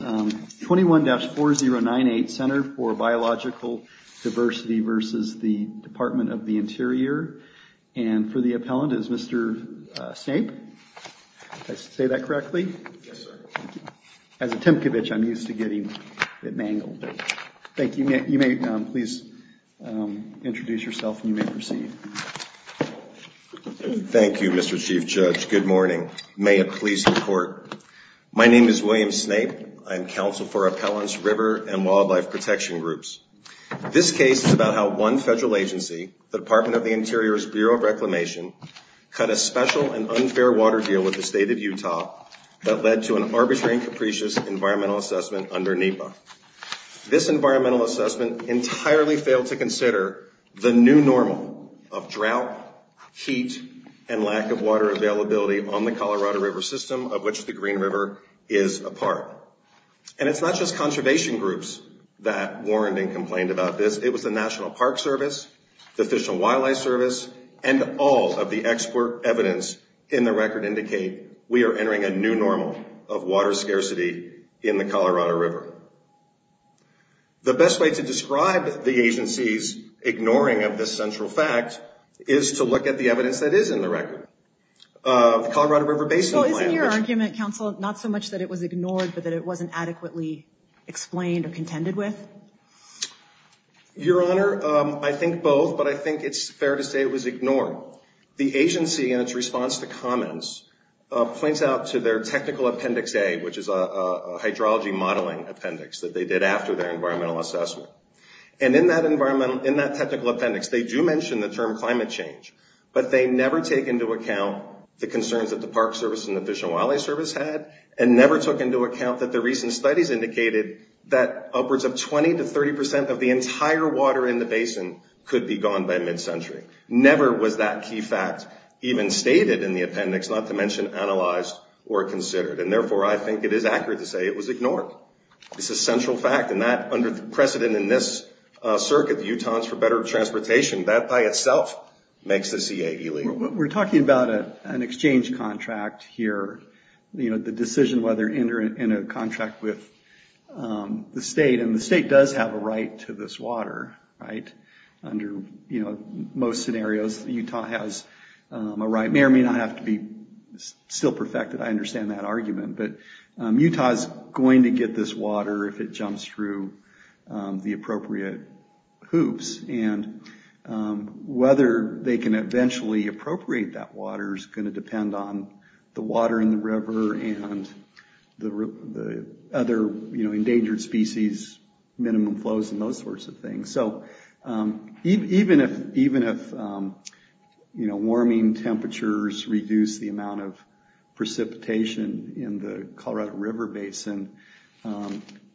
21-4098, Center for Biological Diversity v. Department of the Interior. And for the appellant is Mr. Snape. Did I say that correctly? Yes, sir. As a Timkovich, I'm used to getting it mangled. Thank you. You may please introduce yourself and you may proceed. Thank you, Mr. Chief Judge. Good morning. May it please the Court. My name is William Snape. I'm counsel for appellants, river, and wildlife protection groups. This case is about how one federal agency, the Department of the Interior's Bureau of Reclamation, cut a special and unfair water deal with the state of Utah that led to an arbitrary and capricious environmental assessment under NEPA. This environmental assessment entirely failed to consider the new normal of drought, heat, and lack of water availability on the Colorado River system, of which the Green River is a part. And it's not just conservation groups that warned and complained about this. It was the National Park Service, the Fish and Wildlife Service, and all of the expert evidence in the record indicate we are entering a new normal of water scarcity in the Colorado River. The best way to describe the agency's ignoring of this central fact is to look at the evidence that is in the record. The Colorado River Basin Plan. Well, isn't your argument, counsel, not so much that it was ignored, but that it wasn't adequately explained or contended with? Your Honor, I think both, but I think it's fair to say it was ignored. The agency, in its response to comments, points out to their technical appendix A, which is a hydrology modeling appendix that they did after their environmental assessment. And in that technical appendix, they do mention the term climate change, but they never take into account the concerns that the Park Service and the Fish and Wildlife Service had and never took into account that the recent studies indicated that upwards of 20 to 30 percent of the entire water in the basin could be gone by mid-century. Never was that key fact even stated in the appendix, not to mention analyzed or considered. And therefore, I think it is accurate to say it was ignored. It's a central fact. And that, under the precedent in this circuit, the Utahans for Better Transportation, that by itself makes this E-A-E-L-E. We're talking about an exchange contract here. The decision whether to enter into a contract with the state, and the state does have a right to this water, right? Under most scenarios, Utah has a right. It may or may not have to be still perfected. I understand that argument. But Utah is going to get this water if it jumps through the appropriate hoops. And whether they can eventually appropriate that water is going to depend on the water in the river and the other endangered species, minimum flows, and those sorts of things. Even if warming temperatures reduce the amount of precipitation in the Colorado River basin,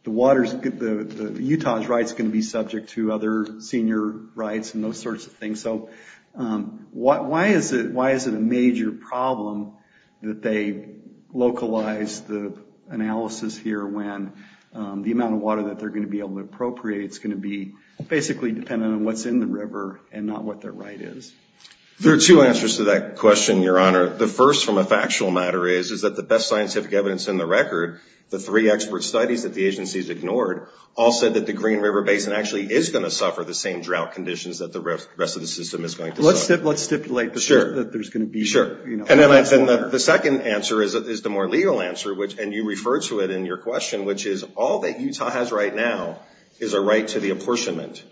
Utah's rights can be subject to other senior rights and those sorts of things. So why is it a major problem that they localized the analysis here when the amount of water that they're going to be able to appropriate is going to be basically dependent on what's in the river and not what their right is? There are two answers to that question, Your Honor. The first, from a factual matter, is that the best scientific evidence in the record, the three expert studies that the agencies ignored, all said that the Green River Basin actually is going to suffer the same drought conditions that the rest of the system is going to suffer. Let's stipulate that there's going to be... Sure. And the second answer is the more legal answer, and you refer to it in your question, which is all that Utah has right now is a right to the apportionment.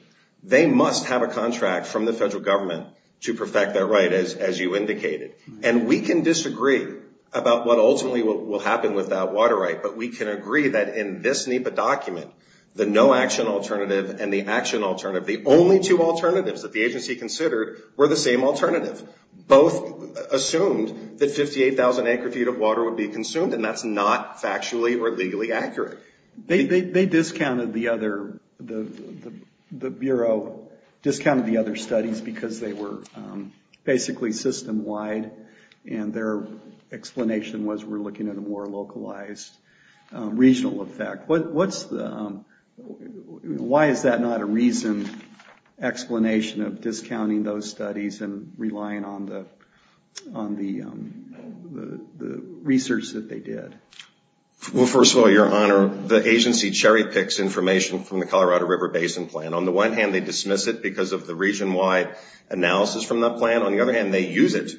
They must have a contract from the federal government to perfect that right, as you indicated. And we can disagree about what ultimately will happen with that water right, but we can agree that in this NEPA document, the no-action alternative and the action alternative, the only two alternatives that the agency considered were the same alternative. Both assumed that 58,000 acre-feet of water would be consumed, and that's not factually or legally accurate. They discounted the other... The Bureau discounted the other studies because they were basically system-wide, and their explanation was we're looking at a more localized regional effect. What's the... Why is that not a reasoned explanation of discounting those studies and relying on the research that they did? Well, first of all, Your Honor, the agency cherry-picks information from the Colorado River Basin Plan. On the one hand, they dismiss it because of the region-wide analysis from that plan. On the other hand, they use it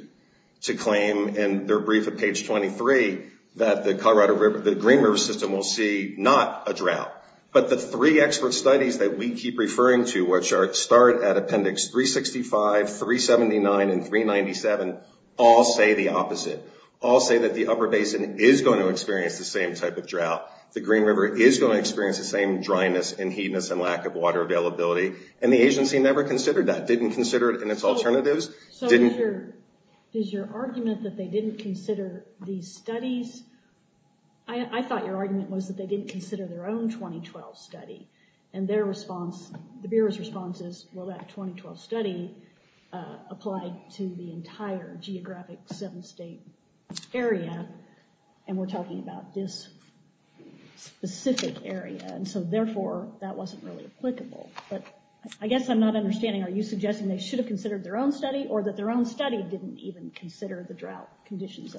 to claim in their brief at page 23 that the Colorado River, the Green River System will see not a drought, but the three expert studies that we keep referring to, which start at appendix 365, 379, and 397, all say the opposite. All say that the upper basin is going to experience the same type of drought. The Green River is going to experience the same dryness and heatness and lack of water availability, and the agency never considered that. Didn't consider it in its alternatives. So is your argument that they didn't consider these studies... I thought your argument was that they didn't consider their own 2012 study, and their response, the Bureau's response is, well, that 2012 study applied to the entire geographic seven-state area, and we're talking about this specific area. And so, therefore, that wasn't really applicable. But I guess I'm not understanding. Are you suggesting they should have considered their own study, or that their own study didn't even consider the drought conditions?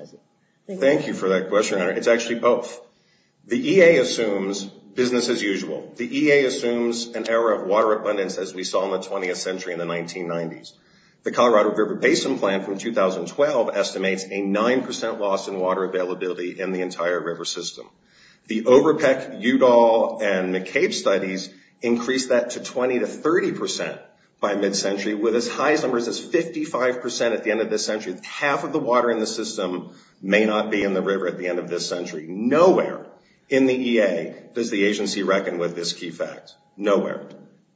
Thank you for that question, Your Honor. It's actually both. The EA assumes business as usual. The EA assumes an error of water abundance, as we saw in the 20th century in the 1990s. The Colorado River Basin Plan from 2012 estimates a 9% loss in water availability in the entire river system. The Overpeck, Udall, and McCabe studies increase that to 20% to 30% by mid-century, with as high numbers as 55% at the end of this century. Half of the water in the system may not be in the river at the end of this century. Nowhere in the EA does the agency reckon with this key fact. Nowhere.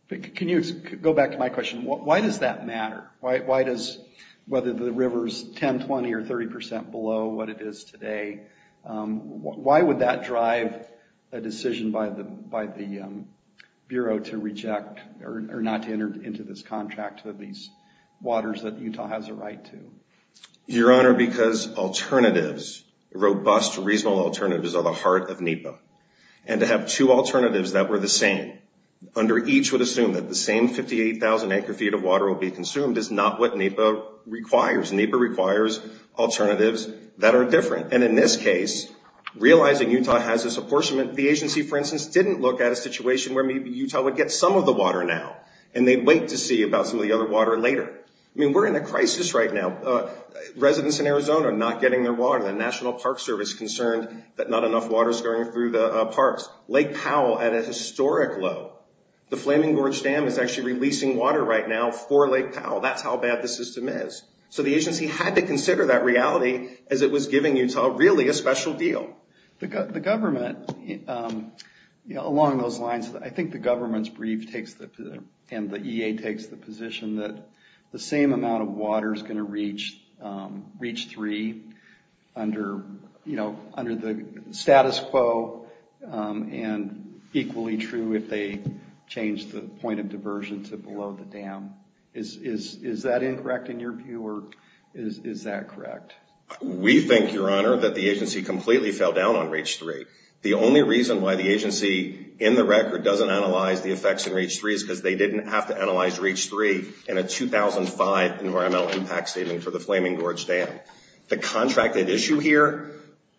Can you go back to my question? Why does that matter? Why does whether the river's 10%, 20%, or 30% below what it is today, why would that drive a decision by the Bureau to reject or not to enter into this contract with these waters that Utah has a right to? Your Honor, because alternatives, robust, reasonable alternatives, are the heart of NEPA. And to have two alternatives that were the same, under each would assume that the same 58,000 acre-feet of water will be consumed, is not what NEPA requires. NEPA requires alternatives that are different. And in this case, realizing Utah has this apportionment, the agency, for instance, didn't look at a situation where maybe Utah would get some of the water now, and they'd wait to see about some of the other water later. I mean, we're in a crisis right now. Residents in Arizona are not getting their water. The National Park Service is concerned that not enough water is going through the parks. Lake Powell at a historic low. The Flaming Gorge Dam is actually releasing water right now for Lake Powell. That's how bad the system is. So the agency had to consider that reality as it was giving Utah really a special deal. The government, along those lines, I think the government's brief takes the position, and the EA takes the position, that the same amount of water is going to reach Reach 3 under the status quo, and equally true if they change the point of diversion to below the dam. Is that incorrect in your view, or is that correct? We think, Your Honor, that the agency completely fell down on Reach 3. The only reason why the agency in the record doesn't analyze the effects in Reach 3 is because they didn't have to analyze Reach 3 in a 2005 environmental impact statement for the Flaming Gorge Dam. The contracted issue here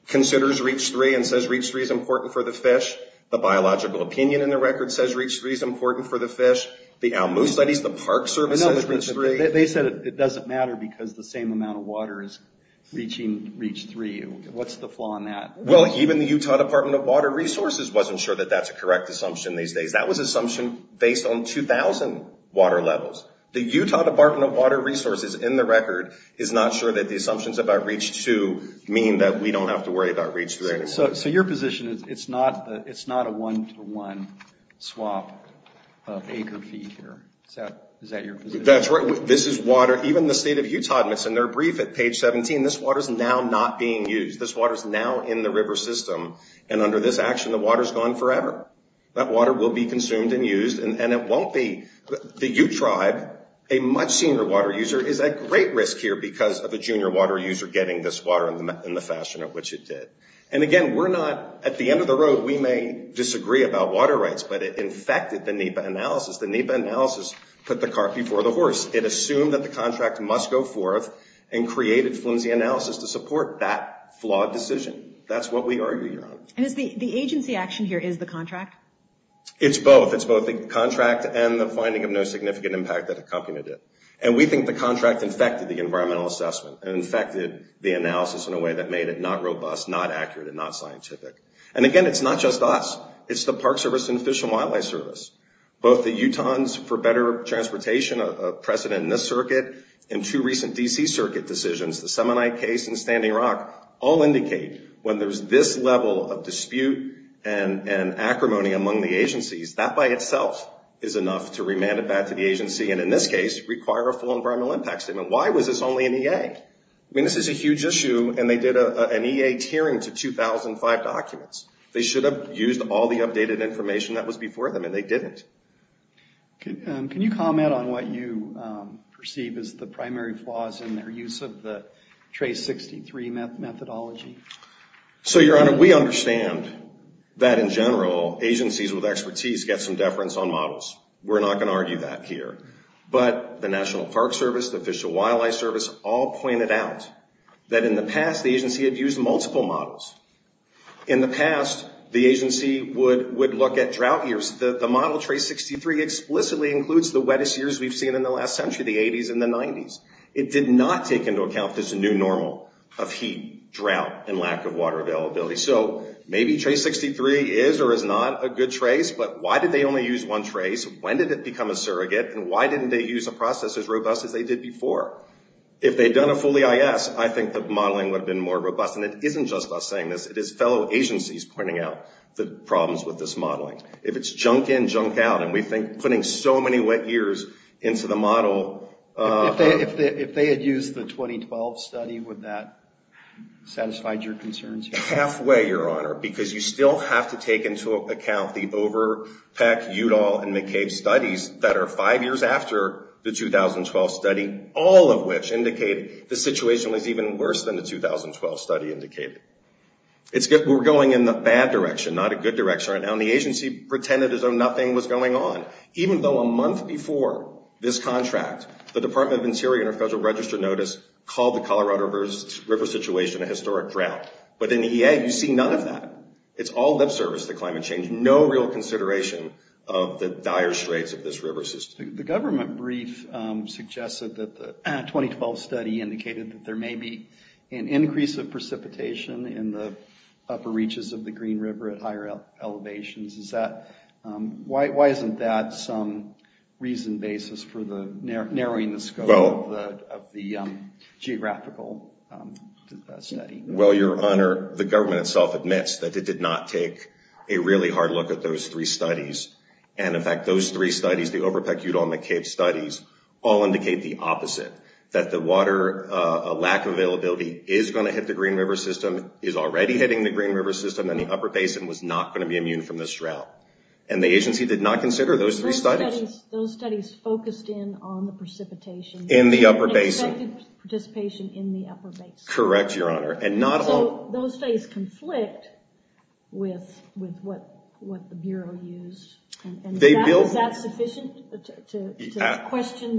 considers Reach 3 and says Reach 3 is important for the fish. The biological opinion in the record says Reach 3 is important for the fish. The Alamo studies, the Park Service says Reach 3. They said it doesn't matter because the same amount of water is reaching Reach 3. What's the flaw in that? Well, even the Utah Department of Water Resources wasn't sure that that's a correct assumption these days. That was an assumption based on 2000 water levels. The Utah Department of Water Resources in the record is not sure that the assumptions about Reach 2 mean that we don't have to worry about Reach 3 anymore. So your position is it's not a one-to-one swap of acre-feet here. Is that your position? That's right. This is water, even the State of Utah admits in their brief at page 17, this water's now not being used. This water's now in the river system, and under this action, the water's gone forever. That water will be consumed and used, and it won't be. The U-Tribe, a much senior water user, is at great risk here because of a junior water user getting this water in the fashion in which it did. And again, we're not, at the end of the road, we may disagree about water rights, but it infected the NEPA analysis. The NEPA analysis put the cart before the horse. It assumed that the contract must go forth and created flimsy analysis to support that flawed decision. That's what we argue, Your Honor. And the agency action here is the contract? It's both. It's both the contract and the finding of no significant impact that accompanied it. And we think the contract infected the environmental assessment and infected the analysis in a way that made it not robust, not accurate, and not scientific. And again, it's not just us. It's the Park Service and Fish and Wildlife Service, both the Utahns for better transportation, a precedent in this circuit, and two recent D.C. circuit decisions, the Semonite case and Standing Rock, all indicate when there's this level of dispute and acrimony among the agencies, that by itself is enough to remand it back to the agency and in this case require a full environmental impact statement. Why was this only in EA? I mean, this is a huge issue, and they did an EA tiering to 2,005 documents. They should have used all the updated information that was before them, and they didn't. Can you comment on what you perceive as the primary flaws in their use of the Trace 63 methodology? So, Your Honor, we understand that, in general, agencies with expertise get some deference on models. We're not going to argue that here. But the National Park Service, the Fish and Wildlife Service, all pointed out that in the past the agency had used multiple models. In the past, the agency would look at drought years. The model Trace 63 explicitly includes the wettest years we've seen in the last century, the 80s and the 90s. It did not take into account this new normal of heat, drought, and lack of water availability. So maybe Trace 63 is or is not a good trace, but why did they only use one trace? When did it become a surrogate? And why didn't they use a process as robust as they did before? If they'd done a fully IS, I think the modeling would have been more robust, and it isn't just us saying this. It is fellow agencies pointing out the problems with this modeling. If it's junk in, junk out, and we think putting so many wet years into the model... If they had used the 2012 study, would that satisfy your concerns? Halfway, Your Honor, because you still have to take into account the Overpeck, Udall, and McCabe studies that are five years after the 2012 study, all of which indicate the situation was even worse than the 2012 study indicated. We're going in the bad direction, not a good direction right now, and the agency pretended as though nothing was going on, even though a month before this contract, the Department of the Interior under Federal Register notice called the Colorado River situation a historic drought. But in the EA, you see none of that. It's all lip service to climate change, no real consideration of the dire straits of this river system. The government brief suggested that the 2012 study indicated that there may be an increase of precipitation in the upper reaches of the Green River at higher elevations. Why isn't that some reasoned basis for narrowing the scope of the geographical study? Well, Your Honor, the government itself admits that it did not take a really hard look at those three studies. In fact, those three studies, the Overpeck, Udall, and McCabe studies, all indicate the opposite. That the water, a lack of availability is going to hit the Green River system, is already hitting the Green River system, and the upper basin was not going to be immune from this drought. The agency did not consider those three studies. Those studies focused in on the precipitation. In the upper basin. Expected participation in the upper basin. Correct, Your Honor. Those studies conflict with what the Bureau used. Is that sufficient to question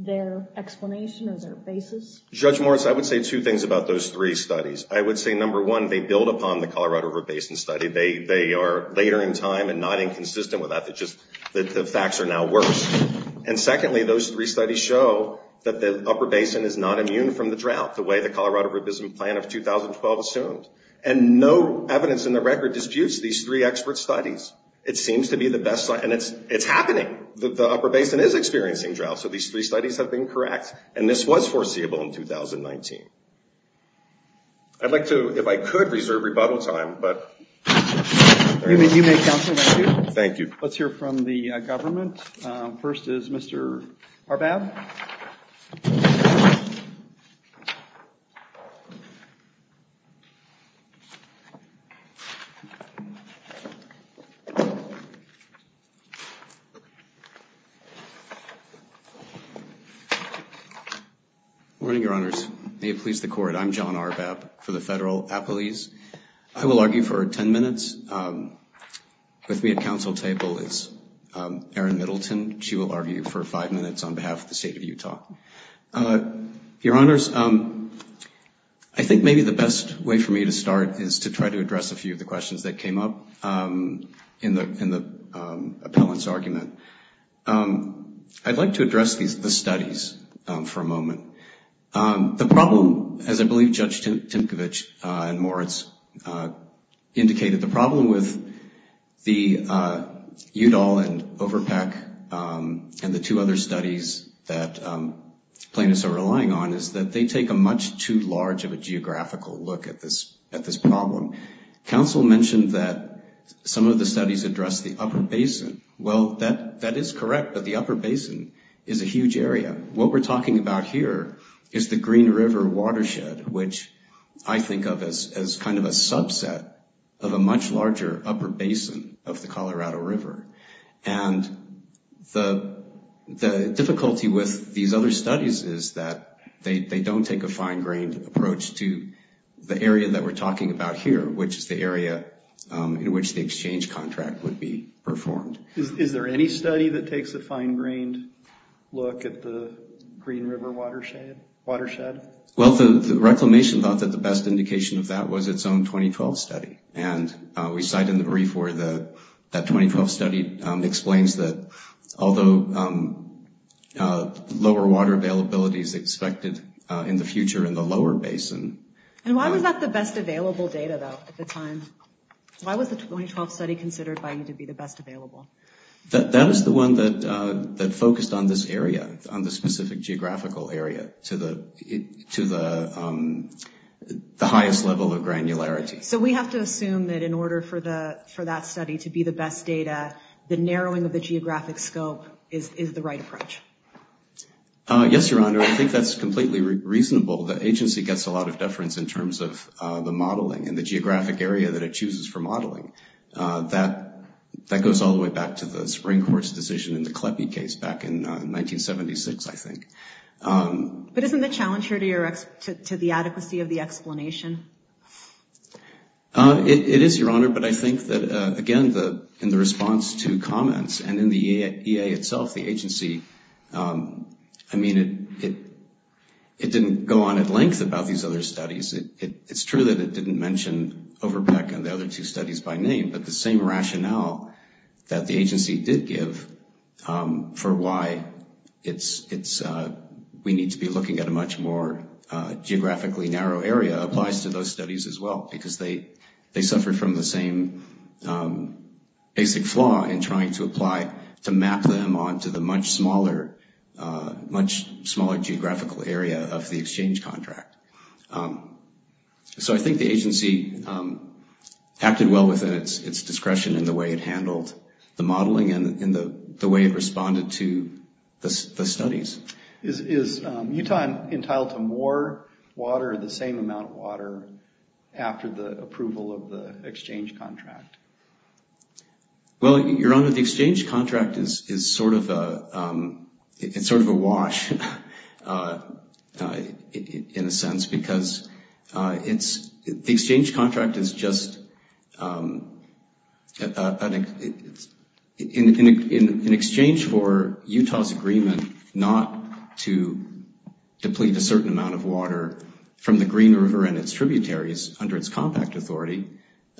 their explanation or their basis? Judge Morris, I would say two things about those three studies. I would say, number one, they build upon the Colorado River Basin Study. They are later in time and not inconsistent with that. The facts are now worse. Secondly, those three studies show that the upper basin is not immune from the drought the way the Colorado River Basin Plan of 2012 assumed. And no evidence in the record disputes these three expert studies. It seems to be the best. And it's happening. The upper basin is experiencing drought. So these three studies have been correct. And this was foreseeable in 2019. I'd like to, if I could, reserve rebuttal time. You may, Counselor. Thank you. Let's hear from the government. First is Mr. Arbab. Good morning, Your Honors. May it please the Court, I'm John Arbab for the Federal Appellees. I will argue for 10 minutes. With me at counsel table is Erin Middleton. She will argue for five minutes on behalf of the State of Utah. Your Honors, I think maybe the best way for me to start is to try to address a few of the questions that came up in the appellant's argument. I'd like to address the studies for a moment. The problem, as I believe Judge Timkovich and Moritz indicated, the problem with the Udall and Overpack and the two other studies that plaintiffs are relying on is that they take a much too large of a geographical look at this problem. Counsel mentioned that some of the studies address the upper basin. Well, that is correct. But the upper basin is a huge area. What we're talking about here is the Green River watershed, which I think of as kind of a subset of a much larger upper basin of the Colorado River. And the difficulty with these other studies is that they don't take a fine-grained approach to the area that we're talking about here, which is the area in which the exchange contract would be performed. Is there any study that takes a fine-grained look at the Green River watershed? Well, the reclamation thought that the best indication of that was its own 2012 study. And we cite in the brief where that 2012 study explains that although lower water availability is expected in the future in the lower basin. And why was that the best available data, though, at the time? Why was the 2012 study considered by you to be the best available? That is the one that focused on this area, on the specific geographical area, to the highest level of granularity. So we have to assume that in order for that study to be the best data, the narrowing of the geographic scope is the right approach? Yes, Your Honor. I think that's completely reasonable. The agency gets a lot of deference in terms of the modeling and the geographic area that it chooses for modeling. That goes all the way back to the Spring Court's decision in the Kleppe case back in 1976, I think. But isn't the challenge here to the adequacy of the explanation? It is, Your Honor. But I think that, again, in the response to comments and in the EA itself, the agency, I mean, it didn't go on at length about these other studies. It's true that it didn't mention Overbeck and the other two studies by name, but the same rationale that the agency did give for why we need to be looking at a much more geographically narrow area applies to those studies as well, because they suffered from the same basic flaw in trying to apply to map them onto the much smaller geographical area of the exchange contract. So I think the agency acted well within its discretion in the way it handled the modeling and the way it responded to the studies. Is Utah entitled to more water or the same amount of water after the approval of the exchange contract? Well, Your Honor, the exchange contract is sort of a wash in a sense, because the exchange contract is just in exchange for Utah's agreement not to deplete a certain amount of water from the Green River and its tributaries under its compact authority.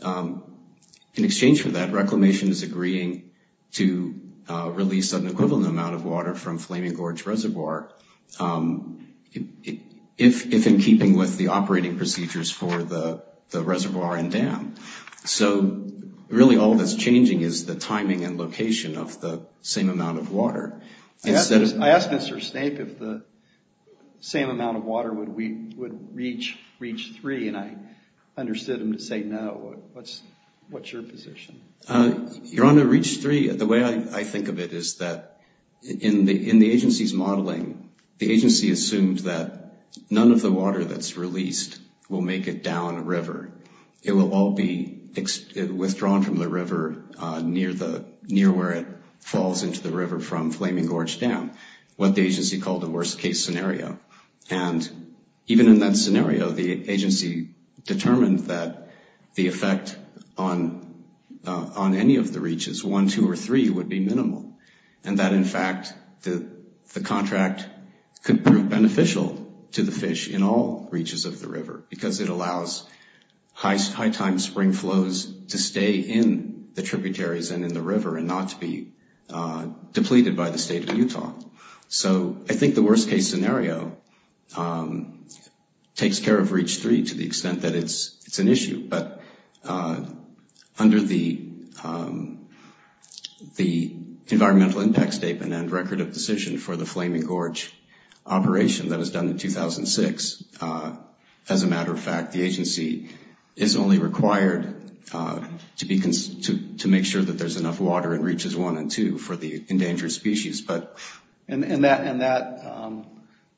In exchange for that, Reclamation is agreeing to release an equivalent amount of water from Flaming Gorge Reservoir. If in keeping with the operating procedures for the reservoir and dam. So really all that's changing is the timing and location of the same amount of water. I asked Mr. Snape if the same amount of water would reach 3, and I understood him to say no. What's your position? Your Honor, it reached 3. The way I think of it is that in the agency's modeling, the agency assumed that none of the water that's released will make it down a river. It will all be withdrawn from the river near where it falls into the river from Flaming Gorge Dam, what the agency called the worst case scenario. And even in that scenario, the agency determined that the effect on any of the reaches, 1, 2, or 3, would be minimal. And that in fact, the contract could prove beneficial to the fish in all reaches of the river, because it allows high time spring flows to stay in the tributaries and in the river and not to be depleted by the state of Utah. So I think the worst case scenario takes care of Reach 3 to the extent that it's an issue. But under the Environmental Impact Statement and Record of Decision for the Flaming Gorge operation that was done in 2006, as a matter of fact, the agency is only required to make sure that there's enough water in Reaches 1 and 2 for the endangered species. And that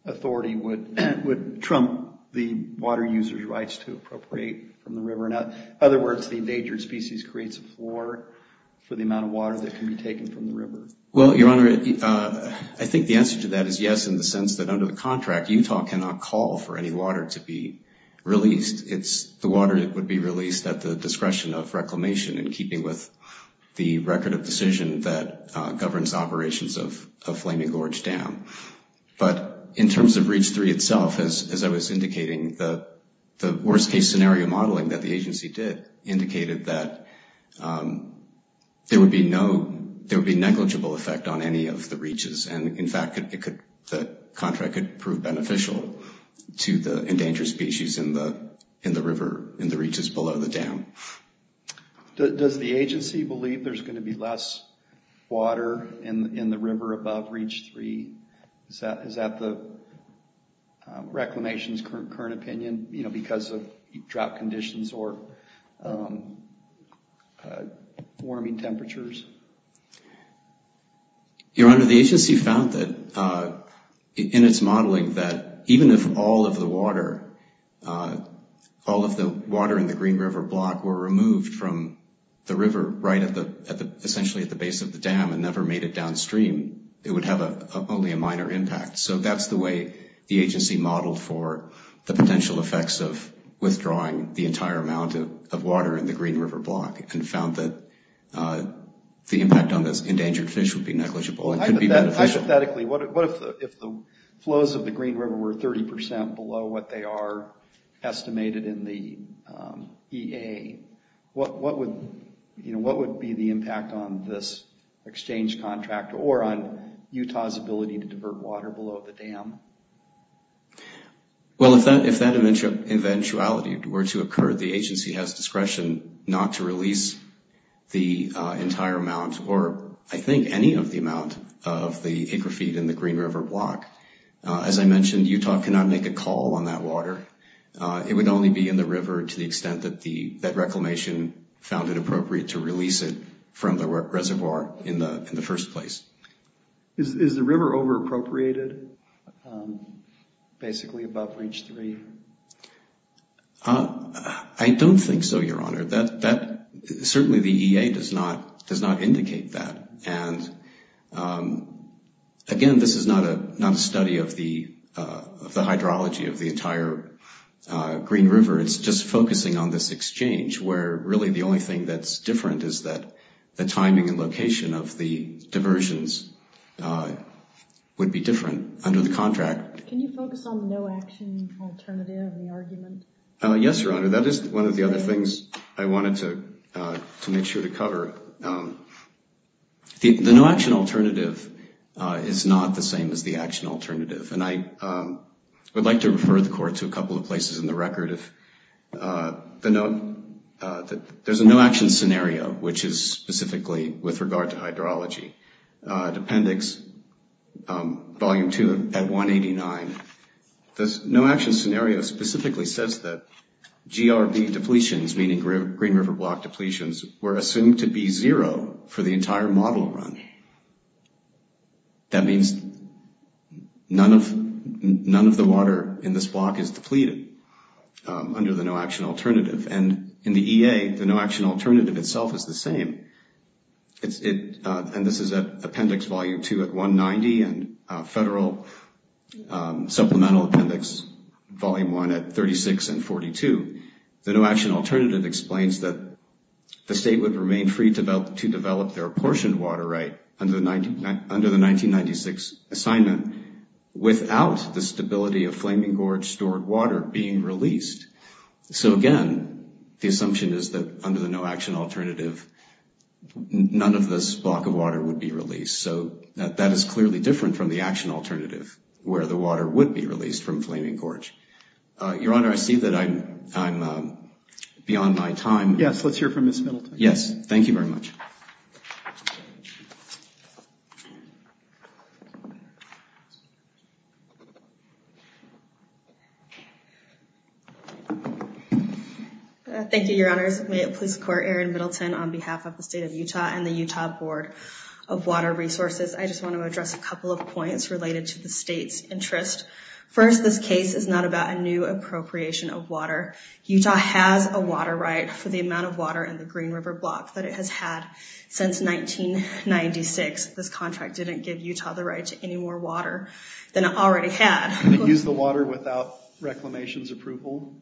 authority would trump the water user's rights to appropriate from the river. In other words, the endangered species creates a floor for the amount of water that can be taken from the river. Well, Your Honor, I think the answer to that is yes, in the sense that under the contract, Utah cannot call for any water to be released. The water would be released at the discretion of reclamation in keeping with the Record of Decision that governs operations of Flaming Gorge Dam. But in terms of Reach 3 itself, as I was indicating, the worst case scenario modeling that the agency did indicated that there would be no, there would be negligible effect on any of the reaches. And in fact, the contract could prove beneficial to the endangered species in the river, in the reaches below the dam. Does the agency believe there's going to be less water in the river above Reach 3? Is that the reclamation's current opinion, you know, because of drought conditions or warming temperatures? Your Honor, the agency found that in its modeling that even if all of the water, all of the water in the Green River block were removed from the river right at the, essentially at the base of the dam and never made it downstream, it would have only a minor impact. So that's the way the agency modeled for the potential effects of withdrawing the entire amount of water in the Green River block and found that the impact on this endangered fish would be negligible and could be beneficial. Hypothetically, what if the flows of the Green River were 30% below what they are estimated in the EA? What would, you know, what would be the impact on this exchange contract or on Utah's ability to divert water below the dam? Well, if that eventuality were to occur, the agency has discretion not to release the entire amount or I think any of the amount of the acre feet in the Green River block. As I mentioned, Utah cannot make a call on that water. It would only be in the river to the extent that the, that reclamation found it appropriate to release it from the reservoir in the first place. Is the river over-appropriated basically above Reach 3? I don't think so, Your Honor. That, certainly the EA does not indicate that. And again, this is not a study of the hydrology of the entire Green River. It's just focusing on this exchange where really the only thing that's different is that the timing and location of the diversions would be different under the contract. Can you focus on the no-action alternative in the argument? Yes, Your Honor. That is one of the other things I wanted to make sure to cover. The no-action alternative is not the same as the action alternative. And I would like to refer the Court to a couple of places in the record. The no-action alternative, there's a no-action scenario, which is specifically with regard to hydrology. Appendix Volume 2 at 189. This no-action scenario specifically says that GRB depletions, meaning Green River block depletions, were assumed to be zero for the entire model run. That means none of the water in this block is depleted under the no-action alternative. And in the EA, the no-action alternative itself is the same. And this is at Appendix Volume 2 at 190 and Federal Supplemental Appendix Volume 1 at 36 and 42. The no-action alternative explains that the State would remain free to develop their apportioned water right under the 1996 assignment without the stability of Flaming Gorge stored water being released. So, again, the assumption is that under the no-action alternative, none of this block of water would be released. So that is clearly different from the action alternative, where the water would be released from Flaming Gorge. Your Honor, I see that I'm beyond my time. Yes, let's hear from Ms. Middleton. Yes, thank you very much. Thank you, Your Honors. May it please the Court, Aaron Middleton on behalf of the State of Utah and the Utah Board of Water Resources. I just want to address a couple of points related to the State's interest. First, this case is not about a new appropriation of water. Utah has a water right for the amount of water in the Green River Block that it has had since 1996. This contract didn't give Utah the right to any more water than it already had. Can it use the water without Reclamation's approval?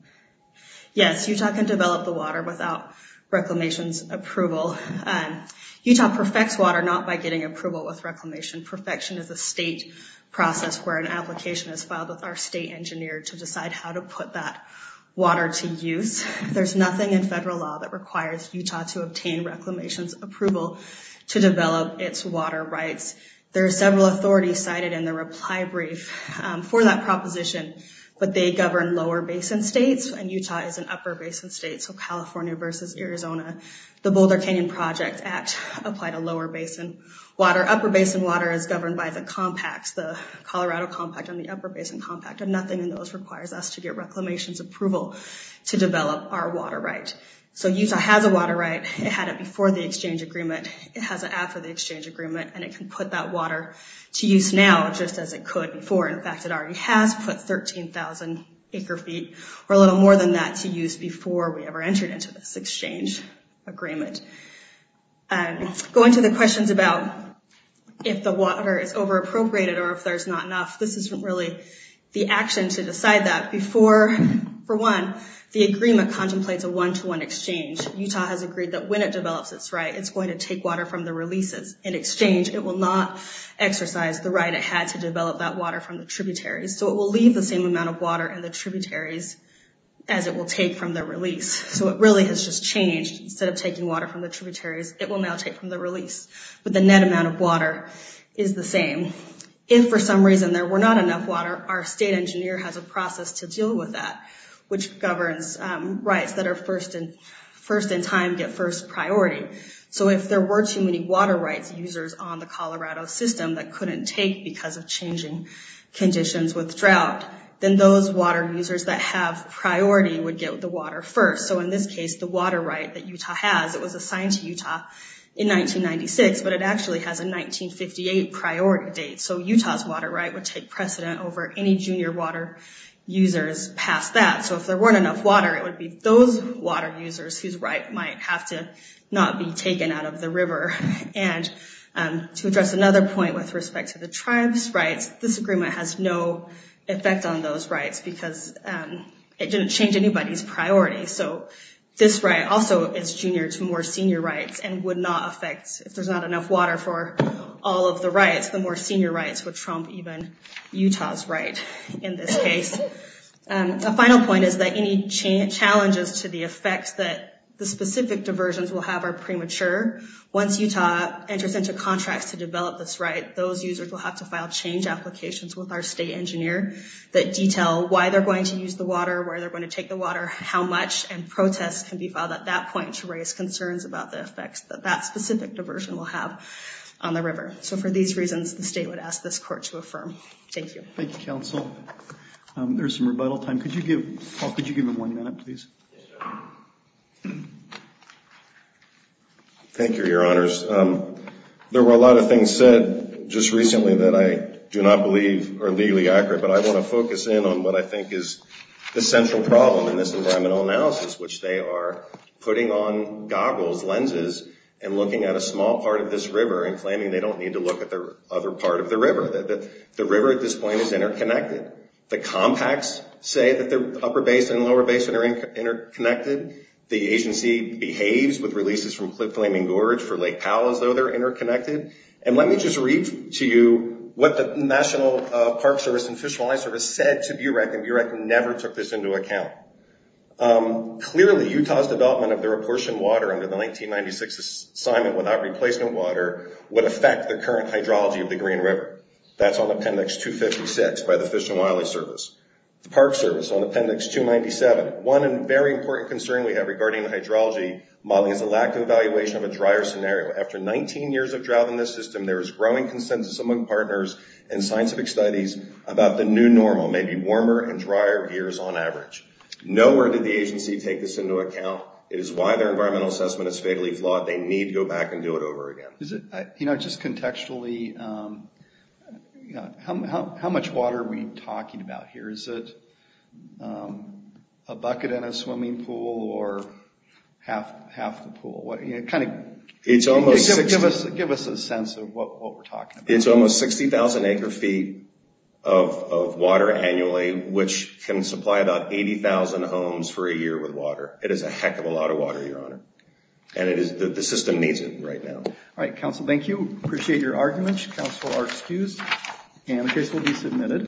Yes, Utah can develop the water without Reclamation's approval. Utah perfects water not by getting approval with Reclamation. Perfection is a state process where an application is filed with our state engineer to decide how to put that water to use. There's nothing in federal law that requires Utah to obtain Reclamation's approval to develop its water rights. There are several authorities cited in the reply brief for that proposition, but they govern lower basin states, and Utah is an upper basin state, so California versus Arizona. The Boulder Canyon Project Act applied a lower basin water. Upper basin water is governed by the compacts, the Colorado Compact and the Upper Basin Compact. Nothing in those requires us to get Reclamation's approval to develop our water right. Utah has a water right. It had it before the exchange agreement. It has it after the exchange agreement, and it can put that water to use now just as it could before. In fact, it already has put 13,000 acre feet or a little more than that to use before we ever entered into this exchange agreement. Going to the questions about if the water is over-appropriated or if there's not enough, this isn't really the action to decide that. For one, the agreement contemplates a one-to-one exchange. Utah has agreed that when it develops its right, it's going to take water from the releases. In exchange, it will not exercise the right it had to develop that water from the tributaries, so it will leave the same amount of water in the tributaries as it will take from the release. It really has just changed. Instead of taking water from the tributaries, it will now take from the release, but the net amount of water is the same. If for some reason there were not enough water, our state engineer has a process to deal with that, which governs rights that are first in time get first priority. If there were too many water rights users on the Colorado system that couldn't take because of changing conditions with drought, then those water users that have priority would get the water first. In this case, the water right that Utah has, it was assigned to Utah in 1996, but it actually has a 1958 priority date. Utah's water right would take precedent over any junior water users past that. If there weren't enough water, it would be those water users whose right might have to not be taken out of the river. To address another point with respect to the tribe's rights, this agreement has no effect on those rights because it didn't change anybody's priority. This right also is junior to more senior rights and would not affect, if there's not enough water for all of the rights, the more senior rights would trump even Utah's right in this case. A final point is that any challenges to the effects that the specific diversions will have are premature. Once Utah enters into contracts to develop this right, those users will have to file change applications with our state engineer that detail why they're going to use the water, where they're going to take the water, how much, and protests can be filed at that point to raise concerns about the effects that that specific diversion will have on the river. For these reasons, the state would ask this court to affirm. Thank you. Thank you, counsel. There's some rebuttal time. Paul, could you give them one minute, please? Yes, sir. Thank you, your honors. There were a lot of things said just recently that I do not believe are legally accurate, but I want to focus in on what I think is the central problem in this environmental analysis, which they are putting on goggles, lenses, and looking at a small part of this river and claiming they don't need to look at the other part of the river, that the river at this point is interconnected. The compacts say that the upper basin and lower basin are interconnected. The agency behaves with releases from Cliff Flaming Gorge for Lake Powell as though they're interconnected. And let me just read to you what the National Park Service and Fish and Wildlife Service said to BUREC, and BUREC never took this into account. Clearly, Utah's development of the proportioned water under the 1996 assignment without replacement water would affect the current hydrology of the Green River. That's on Appendix 256 by the Fish and Wildlife Service. The Park Service on Appendix 297, one very important concern we have regarding hydrology modeling is the lack of evaluation of a drier scenario. After 19 years of drought in this system, there is growing consensus among partners and scientific studies about the new normal, maybe warmer and drier years on average. Nowhere did the agency take this into account. It is why their environmental assessment is fatally flawed. They need to go back and do it over again. You know, just contextually, how much water are we talking about here? Is it a bucket in a swimming pool or half the pool? Kind of give us a sense of what we're talking about. It's almost 60,000 acre-feet of water annually, which can supply about 80,000 homes for a year with water. It is a heck of a lot of water, Your Honor, and the system needs it right now. All right, counsel, thank you. Appreciate your arguments. Counsel are excused, and the case will be submitted.